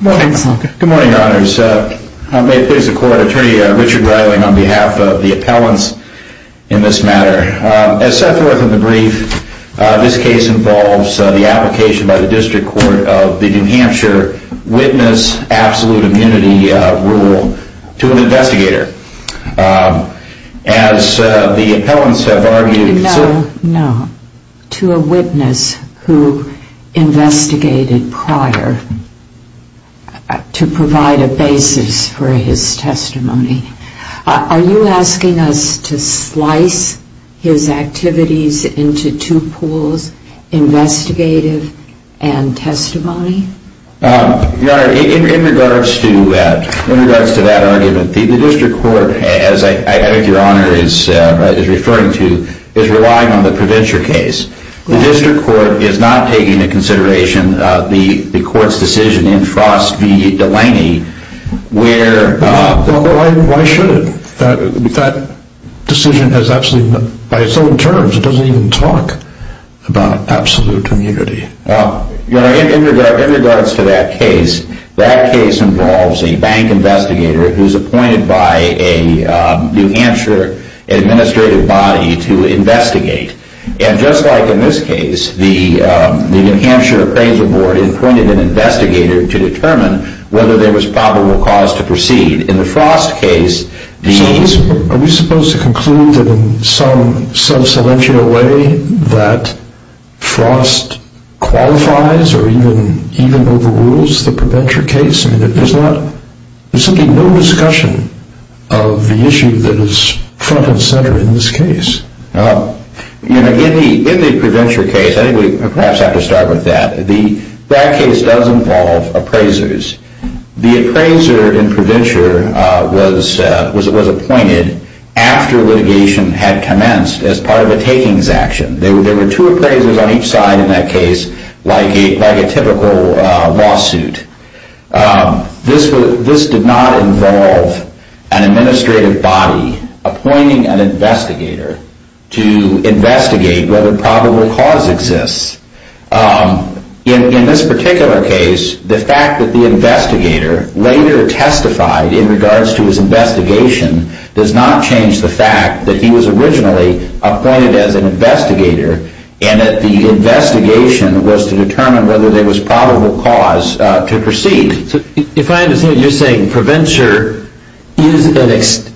Good morning, Your Honors. May it please the court, Attorney Richard Reiling on behalf of the appellants in this matter. As set forth in the brief, this case involves the application by the District Court of the New Hampshire Witness Absolute Immunity Rule to an investigator. As the appellants have argued... No, to a witness who investigated prior to provide a basis for his testimony. Are you asking us to slice his activities into two pools, investigative and testimony? Your Honor, in regards to that argument, the District Court, as I think Your Honor is referring to, is relying on the Provincial case. The District Court is not taking into consideration the court's decision in Frost v. Delaney where... In regards to that case, that case involves a bank investigator who is appointed by a New Hampshire administrative body to investigate. And just like in this case, the New Hampshire Appraisal Board appointed an investigator to determine whether there was probable cause to proceed. In the Frost case... Are we supposed to conclude that in some subselential way that Frost qualifies or even overrules the Provincial case? There's simply no discussion of the issue that is front and center in this case. In the Provincial case, I think we perhaps have to start with that. That case does involve appraisers. The appraiser in Provincial was appointed after litigation had commenced as part of a takings action. There were two appraisers on each side in that case, like a typical lawsuit. This did not involve an administrative body appointing an investigator to investigate whether probable cause exists. In this particular case, the fact that the investigator later testified in regards to his investigation does not change the fact that he was originally appointed as an investigator and that the investigation was to determine whether there was probable cause to proceed. If I understand it, you're saying Preventure is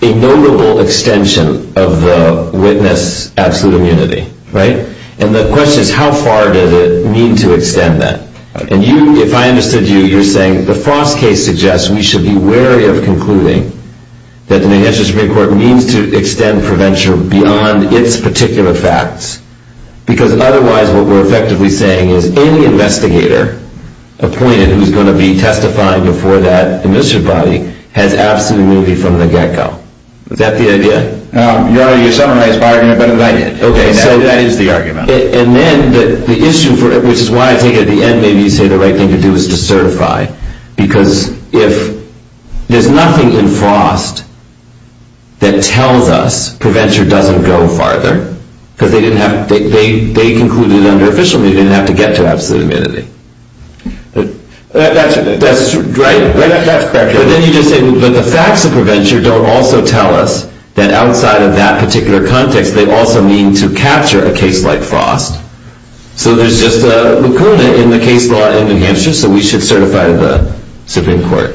a notable extension of the witness absolute immunity, right? And the question is, how far does it need to extend that? If I understood you, you're saying the Frost case suggests we should be wary of concluding that the New Hampshire Supreme Court means to extend Preventure beyond its particular facts, because otherwise what we're effectively saying is any investigator appointed who's going to be testifying before that administrative body has absolute immunity from the get-go. Is that the idea? You already summarized my argument better than I did. That is the argument. And then the issue, which is why I think at the end maybe you say the right thing to do is to certify, because if there's nothing in Frost that tells us Preventure doesn't go farther, because they concluded under official meaning it didn't have to get to absolute immunity. That's correct. But then you just say, but the facts of Preventure don't also tell us that outside of that particular context they also mean to capture a case like Frost. So there's just a lacuna in the case law in New Hampshire, so we should certify the Supreme Court.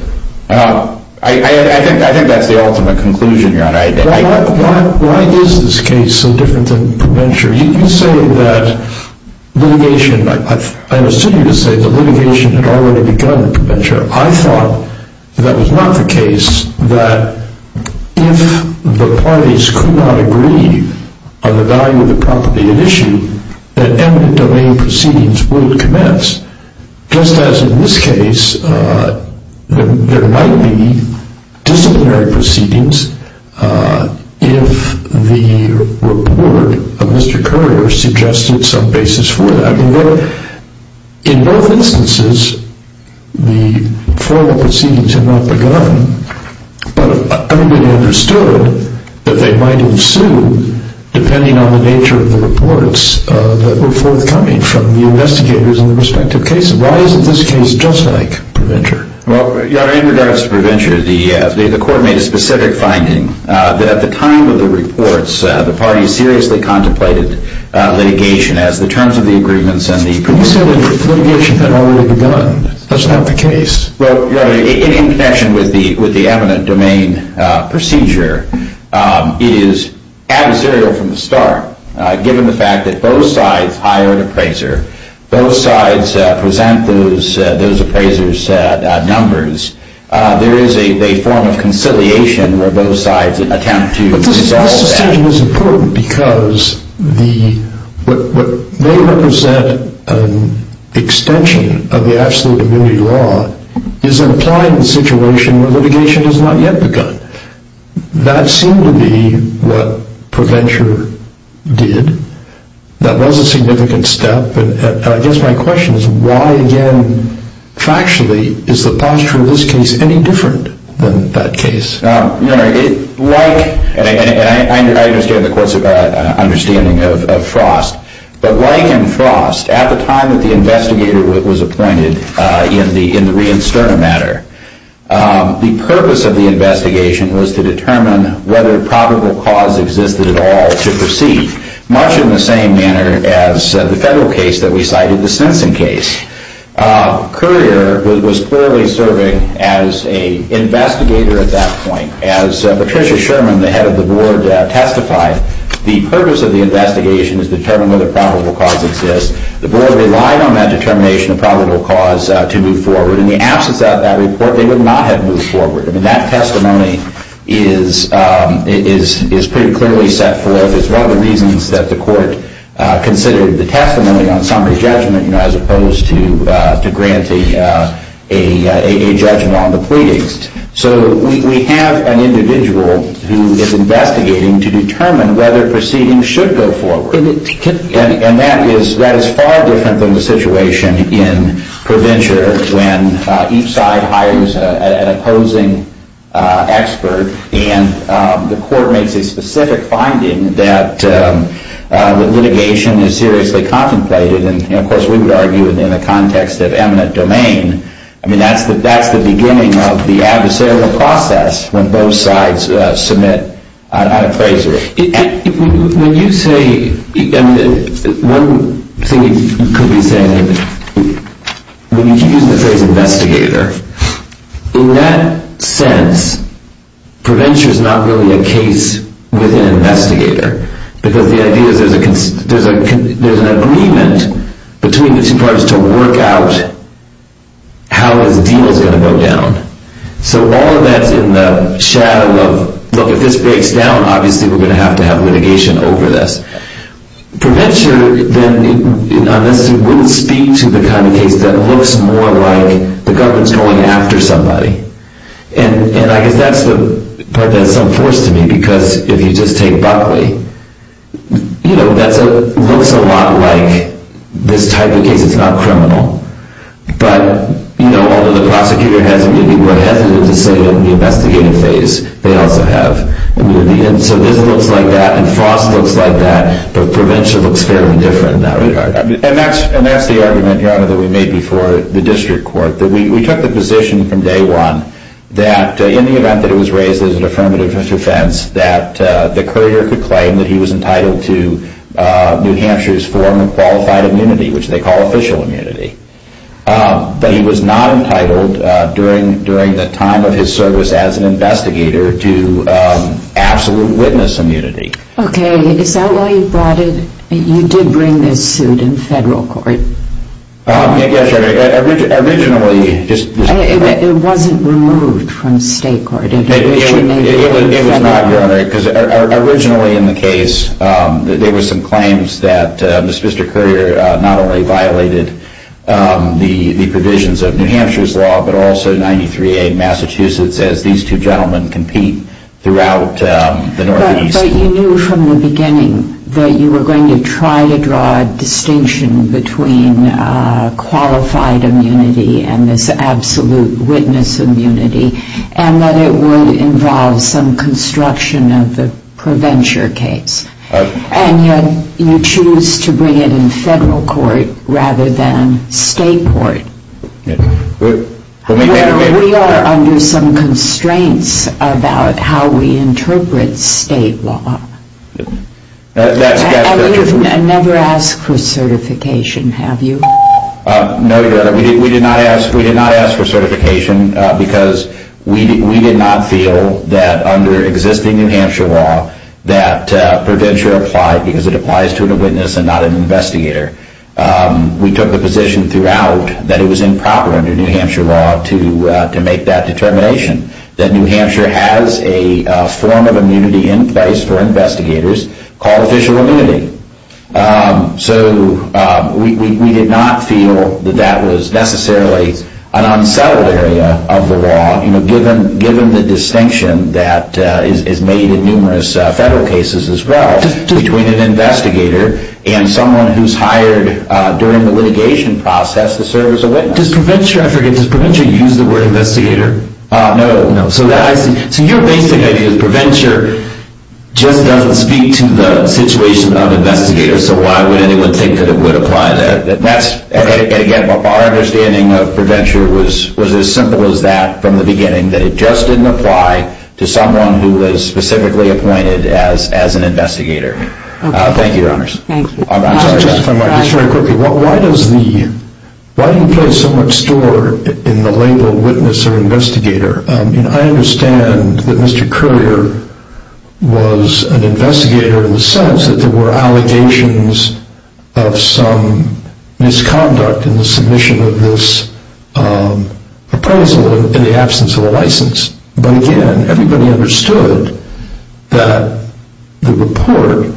I think that's the ultimate conclusion. Why is this case so different than Preventure? You say that litigation, I understood you to say that litigation had already begun in Preventure. I thought that was not the case, that if the parties could not agree on the value of the property at issue, that eminent domain proceedings would commence, just as in this case there might be disciplinary proceedings if the report of Mr. Currier suggested some basis for that. In both instances, the formal proceedings had not begun, but everybody understood that they might ensue depending on the nature of the reports that were forthcoming from the investigators in the respective cases. Why isn't this case just like Preventure? Well, Your Honor, in regards to Preventure, the court made a specific finding that at the time of the reports, the parties seriously contemplated litigation as the terms of the agreements and the proceedings. But you say that litigation had already begun. That's not the case. Well, Your Honor, in connection with the eminent domain procedure, it is adversarial from the start, given the fact that both sides hire an appraiser, both sides present those appraisers numbers. There is a form of conciliation where both sides attempt to resolve that. Well, this decision is important because what may represent an extension of the absolute immunity law is implied in the situation where litigation has not yet begun. That seemed to be what Preventure did. That was a significant step. I guess my question is, why again, factually, is the posture of this case any different than that case? Your Honor, like, and I understand the court's understanding of Frost, but like in Frost, at the time that the investigator was appointed in the re-insterna matter, the purpose of the investigation was to determine whether probable cause existed at all to proceed, much in the same manner as the federal case that we cited, the Simpson case. Courier was clearly serving as an investigator at that point. As Patricia Sherman, the head of the board, testified, the purpose of the investigation is to determine whether probable cause exists. The board relied on that determination of probable cause to move forward. In the absence of that report, they would not have moved forward. I mean, that testimony is pretty clearly set forth as one of the reasons that the court considered the testimony on summary judgment as opposed to granting a judgment on the pleadings. So we have an individual who is investigating to determine whether proceedings should go forward. And that is far different than the situation in ProVenture, when each side hires an opposing expert, and the court makes a specific finding that litigation is seriously contemplated. And of course, we would argue in the context of eminent domain, I mean, that's the beginning of the adversarial process when both sides submit an appraiser. When you say, one thing you could be saying, when you use the phrase investigator, in that sense, ProVenture is not really a case with an investigator, because the idea is there's an agreement between the two parties to work out how this deal is going to go down. So all of that's in the shadow of, look, if this breaks down, obviously, we're going to have to have litigation over this. ProVenture, then, wouldn't speak to the kind of case that looks more like the government's going after somebody. And I guess that's the part that's some force to me, because if you just take Buckley, you know, that looks a lot like this type of case. It's not criminal. But, you know, although the prosecutor has to be more hesitant to say in the investigating phase, they also have. And so this looks like that, and Frost looks like that, but ProVenture looks fairly different in that regard. And that's the argument, Your Honor, that we made before the district court, that we took the position from day one that in the event that it was raised as an affirmative defense, that the courier could claim that he was entitled to New Hampshire's form of qualified immunity, which they call official immunity. But he was not entitled during the time of his service as an investigator to absolute witness immunity. Okay, is that why you brought it, you did bring this suit in federal court? Yes, Your Honor. Originally, just... It wasn't removed from state court. It was not, Your Honor, because originally in the case, there were some claims that Mr. Courier not only violated the provisions of New Hampshire's law, but also 93A Massachusetts, as these two gentlemen compete throughout the Northeast. But you knew from the beginning that you were going to try to draw a distinction between qualified immunity and this absolute witness immunity, and that it would involve some construction of the ProVenture case. And yet you choose to bring it in federal court rather than state court. We are under some constraints about how we interpret state law. And we've never asked for certification, have you? No, Your Honor, we did not ask for certification because we did not feel that under existing New Hampshire law that ProVenture applied because it applies to a witness and not an investigator. We took the position throughout that it was improper under New Hampshire law to make that determination, that New Hampshire has a form of immunity in place for investigators called official immunity. So we did not feel that that was necessarily an unsettled area of the law, given the distinction that is made in numerous federal cases as well between an investigator and someone who's hired during the litigation process to serve as a witness. Does ProVenture, I forget, does ProVenture use the word investigator? No. So your basic idea is ProVenture just doesn't speak to the situation of investigators, so why would anyone think that it would apply there? And again, our understanding of ProVenture was as simple as that from the beginning, that it just didn't apply to someone who was specifically appointed as an investigator. Why do you place so much store in the label witness or investigator? I understand that Mr. Currier was an investigator in the sense that there were allegations of some misconduct in the submission of this appraisal in the absence of a license. But again, everybody understood that the report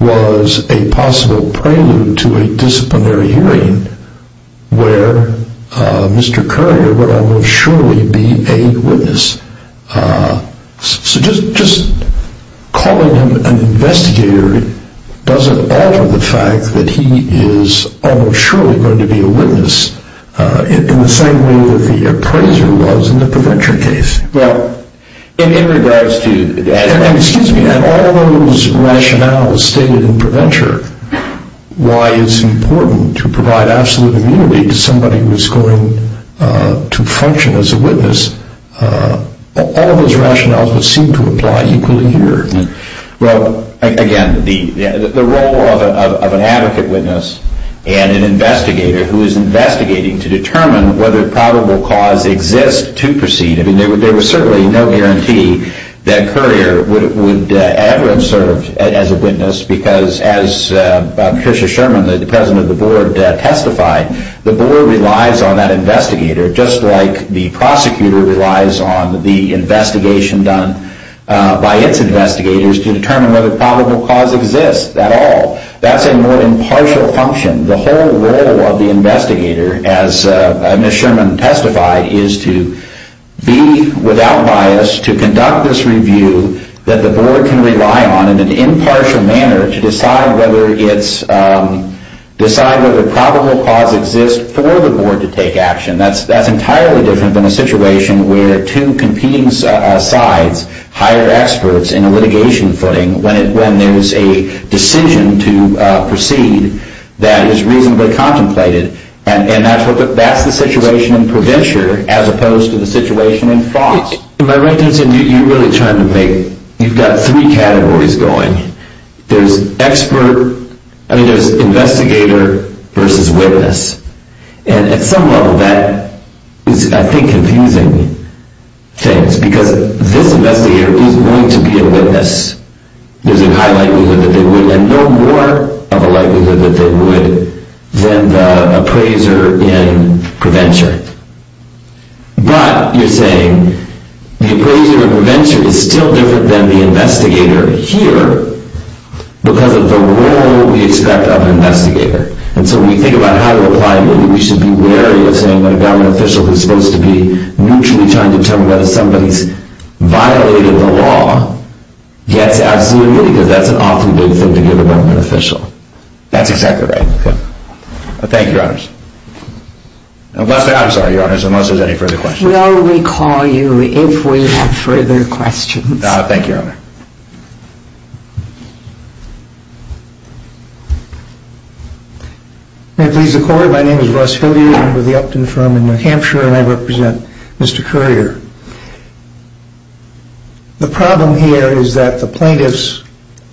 was a possible prelude to a disciplinary hearing where Mr. Currier would almost surely be a witness. So just calling him an investigator doesn't alter the fact that he is almost surely going to be a witness in the same way that the appraiser was in the ProVenture case. And all those rationales stated in ProVenture, why it's important to provide absolute immunity to somebody who is going to function as a witness, all those rationales would seem to apply equally here. Well, again, the role of an advocate witness and an investigator who is investigating to determine whether probable cause exists to proceed, I mean, there was certainly no guarantee that Currier would ever have served as a witness because as Patricia Sherman, the president of the board, testified, the board relies on that investigator just like the prosecutor relies on the investigation done by its investigator. That's a more impartial function. The whole role of the investigator, as Ms. Sherman testified, is to be without bias, to conduct this review that the board can rely on in an impartial manner to decide whether probable cause exists for the board to take action. That's entirely different than a situation where two competing sides hire experts in a litigation footing when there's a decision to proceed that is reasonably contemplated. And that's the situation in ProVenture as opposed to the situation in France. Am I right in saying you're really trying to make, you've got three categories going. There's expert, I mean, there's investigator versus witness. And at some level that is, I think, confusing things because this investigator is going to be a witness. There's a high likelihood that they would and no more of a likelihood that they would than the appraiser in ProVenture. But you're saying the appraiser in ProVenture is still different than the investigator here because of the role we expect of an investigator. And so when we think about how to apply it, maybe we should be wary of saying that a government official who's supposed to be mutually trying to determine whether somebody's violating the law gets absolutely, because that's an awfully big thing to give a government official. That's exactly right. Thank you, Your Honors. I'm sorry, Your Honors, unless there's any further questions. We'll recall you if we have further questions. Thank you, Your Honor. May it please the Court, my name is Russ Hilliard. I'm with the Upton Firm in New Hampshire and I represent Mr. Currier. The problem here is that the plaintiffs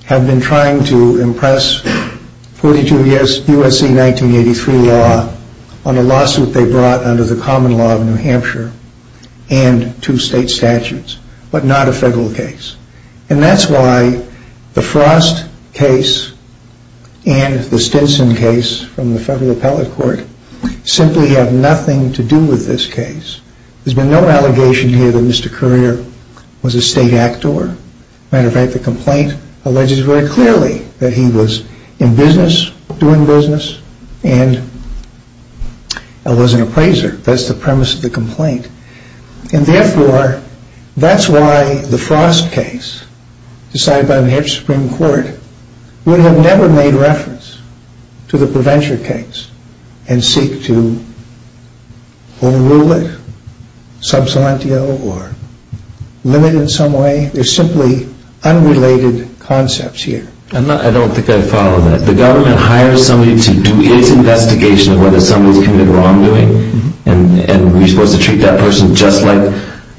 have been trying to impress 42 U.S.C. 1983 law on a lawsuit they brought under the common law of New Hampshire and two state statutes, but not a federal case. And that's why the Frost case and the Stinson case from the Federal Appellate Court simply have nothing to do with this case. There's been no allegation here that Mr. Currier was a state actor. As a matter of fact, the complaint alleges very clearly that he was in business, doing business, and was an appraiser. And therefore, that's why the Frost case, decided by New Hampshire Supreme Court, would have never made reference to the Prevention case and seek to overrule it, sub silentio, or limit it in some way. There's simply unrelated concepts here. I don't think I follow that. The government hires somebody to do its investigation of whether somebody's committed wrongdoing? And we're supposed to treat that person just like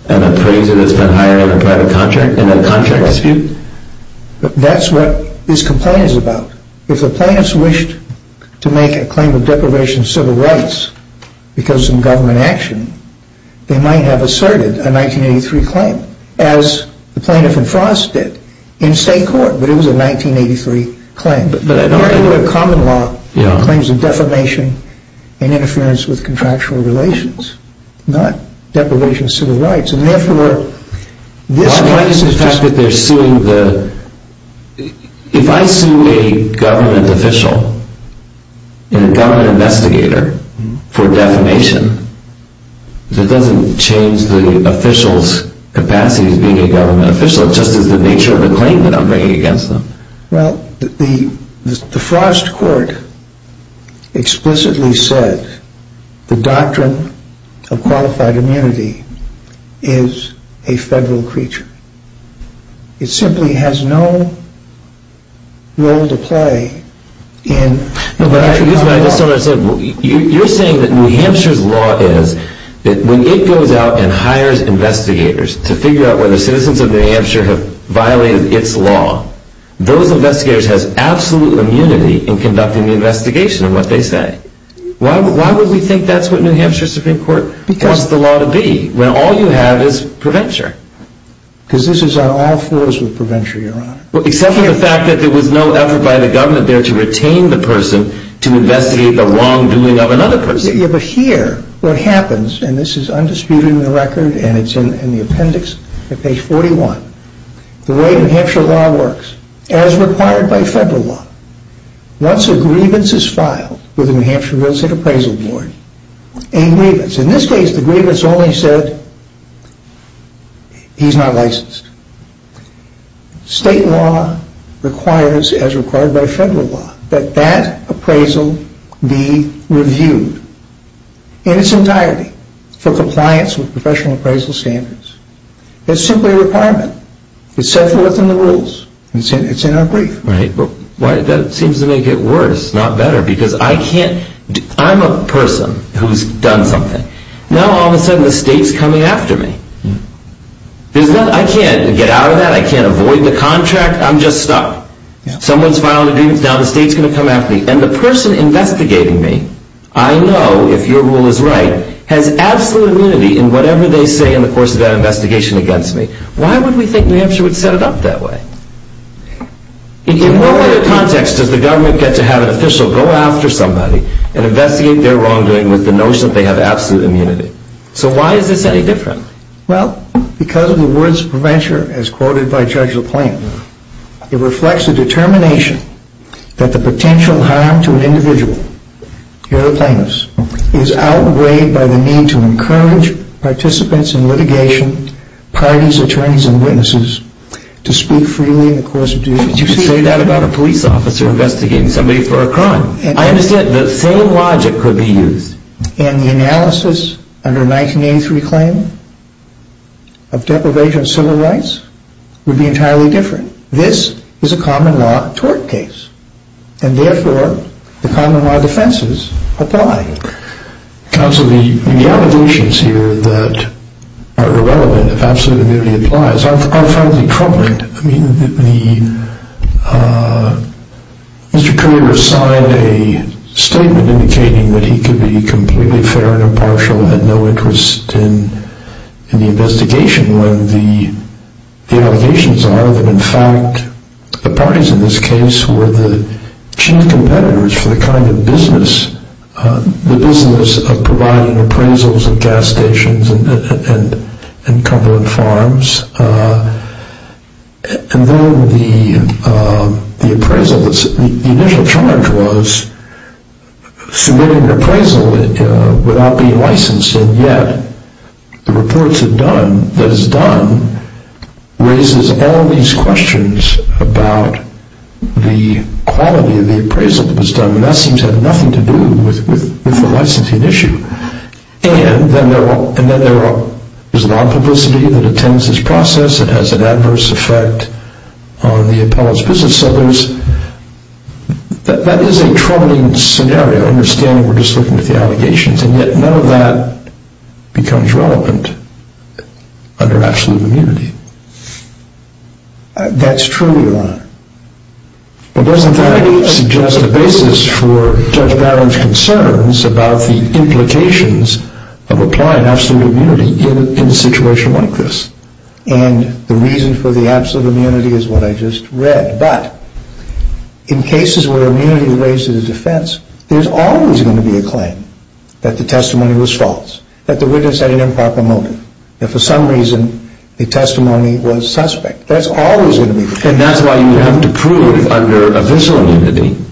an appraiser that's been hired in a private contract, in a contract dispute? That's what this complaint is about. If the plaintiffs wished to make a claim of deprivation of civil rights because of some government action, they might have asserted a 1983 claim, as the plaintiff in Frost did in state court, but it was a 1983 claim. But I don't think... You're talking about a common law claims of defamation and interference with contractual relations, not deprivation of civil rights. And therefore, this case is just... My point is the fact that they're suing the... If I sue a government official and a government investigator for defamation, that doesn't change the official's capacity as being a government official, just as the nature of the claim that I'm bringing against them. Well, the Frost court explicitly said the doctrine of qualified immunity is a federal creature. It simply has no role to play in... You're saying that New Hampshire's law is that when it goes out and hires investigators to figure out whether citizens of New Hampshire have violated its law, those investigators have absolute immunity in conducting the investigation of what they say. Why would we think that's what New Hampshire Supreme Court wants the law to be, when all you have is prevention? Because this is on all fours with prevention, Your Honor. Except for the fact that there was no effort by the government there to retain the person to investigate the wrongdoing of another person. Yeah, but here, what happens, and this is undisputed in the record and it's in the appendix at page 41, the way New Hampshire law works, as required by federal law, once a grievance is filed with the New Hampshire Real Estate Appraisal Board, a grievance... In this case, the grievance only said, he's not licensed. State law requires, as required by federal law, that that appraisal be reviewed in its entirety for compliance with professional appraisal standards. It's simply a requirement. It's set forth in the rules. It's in our brief. Right, but that seems to make it worse, not better, because I can't... I'm a person who's done something. Now all of a sudden the state's coming after me. I can't get out of that. I can't avoid the contract. I'm just stuck. Someone's filed a grievance. Now the state's going to come after me. And the person investigating me, I know, if your rule is right, has absolute immunity in whatever they say in the course of that investigation against me. Why would we think New Hampshire would set it up that way? In what other context does the government get to have an official go after somebody and investigate their wrongdoing with the notion that they have absolute immunity? So why is this any different? Well, because of the words of prevention, as quoted by Judge LaPlain, it reflects a determination that the potential harm to an individual, here LaPlain is, is outweighed by the need to encourage participants in litigation, parties, attorneys, and witnesses to speak freely in the course of due process. But you say that about a police officer investigating somebody for a crime. I understand the same logic could be used. And the analysis under 1983 claim of deprivation of civil rights would be entirely different. This is a common law tort case. And therefore, the common law defenses apply. Counsel, the allegations here that are relevant, if absolute immunity applies, are frankly troubling. I mean, Mr. Kruger signed a statement indicating that he could be completely fair and impartial and had no interest in the investigation when the allegations are that, in fact, the parties in this case were the chief competitors for the kind of business, the business of providing appraisals of gas stations and cumberland farms. And then the appraisal, the initial charge was submitting an appraisal without being licensed, and yet the report that is done raises all these questions about the quality of the appraisal that was done. I mean, that seems to have nothing to do with the licensing issue. And then there is a lot of publicity that attends this process. It has an adverse effect on the appellate's business. So that is a troubling scenario, understanding we're just looking at the allegations, and yet none of that becomes relevant under absolute immunity. That's true, Your Honor. But doesn't that suggest a basis for Judge Barron's concerns about the implications of applying absolute immunity in a situation like this? And the reason for the absolute immunity is what I just read. But in cases where immunity is raised as a defense, there's always going to be a claim that the testimony was false, that the witness had an improper motive, that for some reason the testimony was suspect. And that's why you would have to prove under official immunity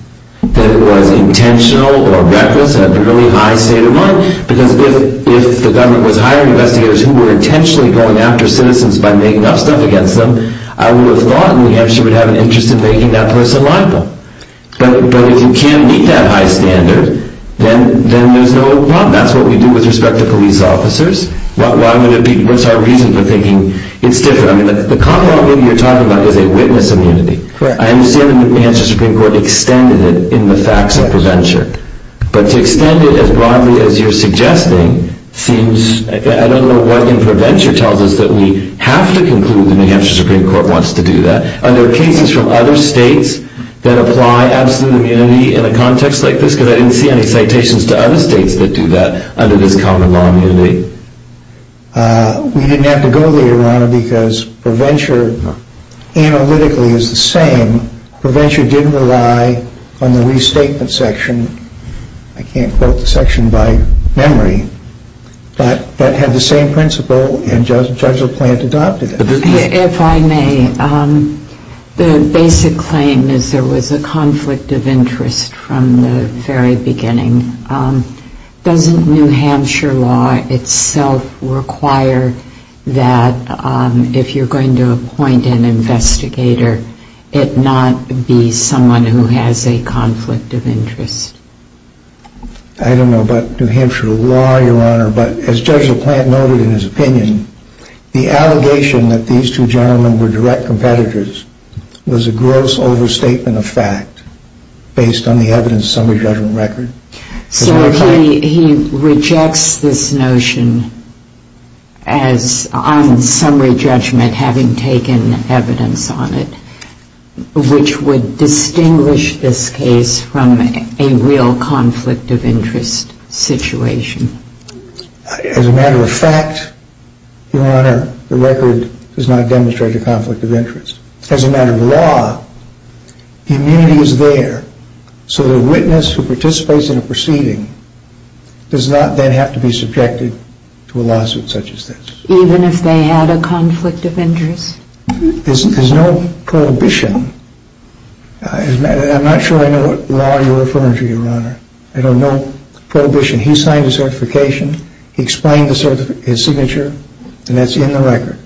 that it was intentional or reckless in a really high state of mind, because if the government was hiring investigators who were intentionally going after citizens by making up stuff against them, I would have thought New Hampshire would have an interest in making that person liable. But if you can't meet that high standard, then there's no problem. That's what we do with respect to police officers. What's our reason for thinking it's different? The common law you're talking about is a witness immunity. I understand the New Hampshire Supreme Court extended it in the facts of prevention. But to extend it as broadly as you're suggesting seems... I don't know what in prevention tells us that we have to conclude the New Hampshire Supreme Court wants to do that. Are there cases from other states that apply absolute immunity in a context like this? Because I didn't see any citations to other states that do that under this common law immunity. We didn't have to go there, Rana, because prevention analytically is the same. Prevention didn't rely on the restatement section. I can't quote the section by memory. But that had the same principle, and Judge LaPlante adopted it. If I may, the basic claim is there was a conflict of interest from the very beginning. Doesn't New Hampshire law itself require that if you're going to appoint an investigator, it not be someone who has a conflict of interest? I don't know about New Hampshire law, Your Honor, but as Judge LaPlante noted in his opinion, the allegation that these two gentlemen were direct competitors was a gross overstatement of fact based on the evidence summary judgment record. So he rejects this notion as on summary judgment having taken evidence on it, which would distinguish this case from a real conflict of interest situation. As a matter of fact, Your Honor, the record does not demonstrate a conflict of interest. As a matter of law, the immunity is there. So the witness who participates in a proceeding does not then have to be subjected to a lawsuit such as this. Even if they had a conflict of interest? There's no prohibition. I'm not sure I know what law you're referring to, Your Honor. I don't know prohibition. He signed a certification. He explained his signature, and that's in the record.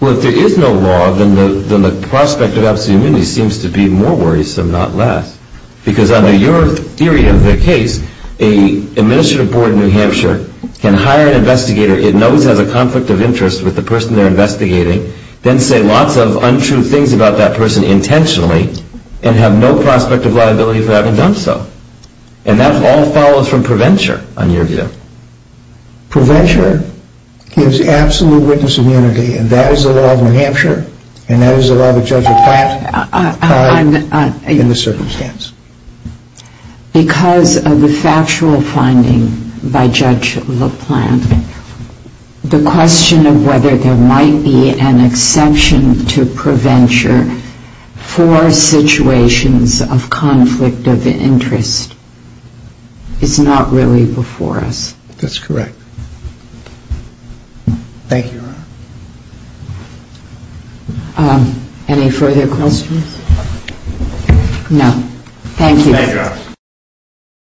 Well, if there is no law, then the prospect of absolute immunity seems to be more worrisome, not less, because under your theory of the case, an administrative board in New Hampshire can hire an investigator it knows has a conflict of interest with the person they're investigating, then say lots of untrue things about that person intentionally and have no prospect of liability for having done so. And that all follows from prevention on your view. Prevention gives absolute witness immunity, and that is the law of New Hampshire, and that is the law of Judge LaPlante in this circumstance. Because of the factual finding by Judge LaPlante, the question of whether there might be an exception to prevention for situations of conflict of interest is not really before us. That's correct. Thank you, Your Honor. Any further questions? Thank you. Thank you, Your Honor.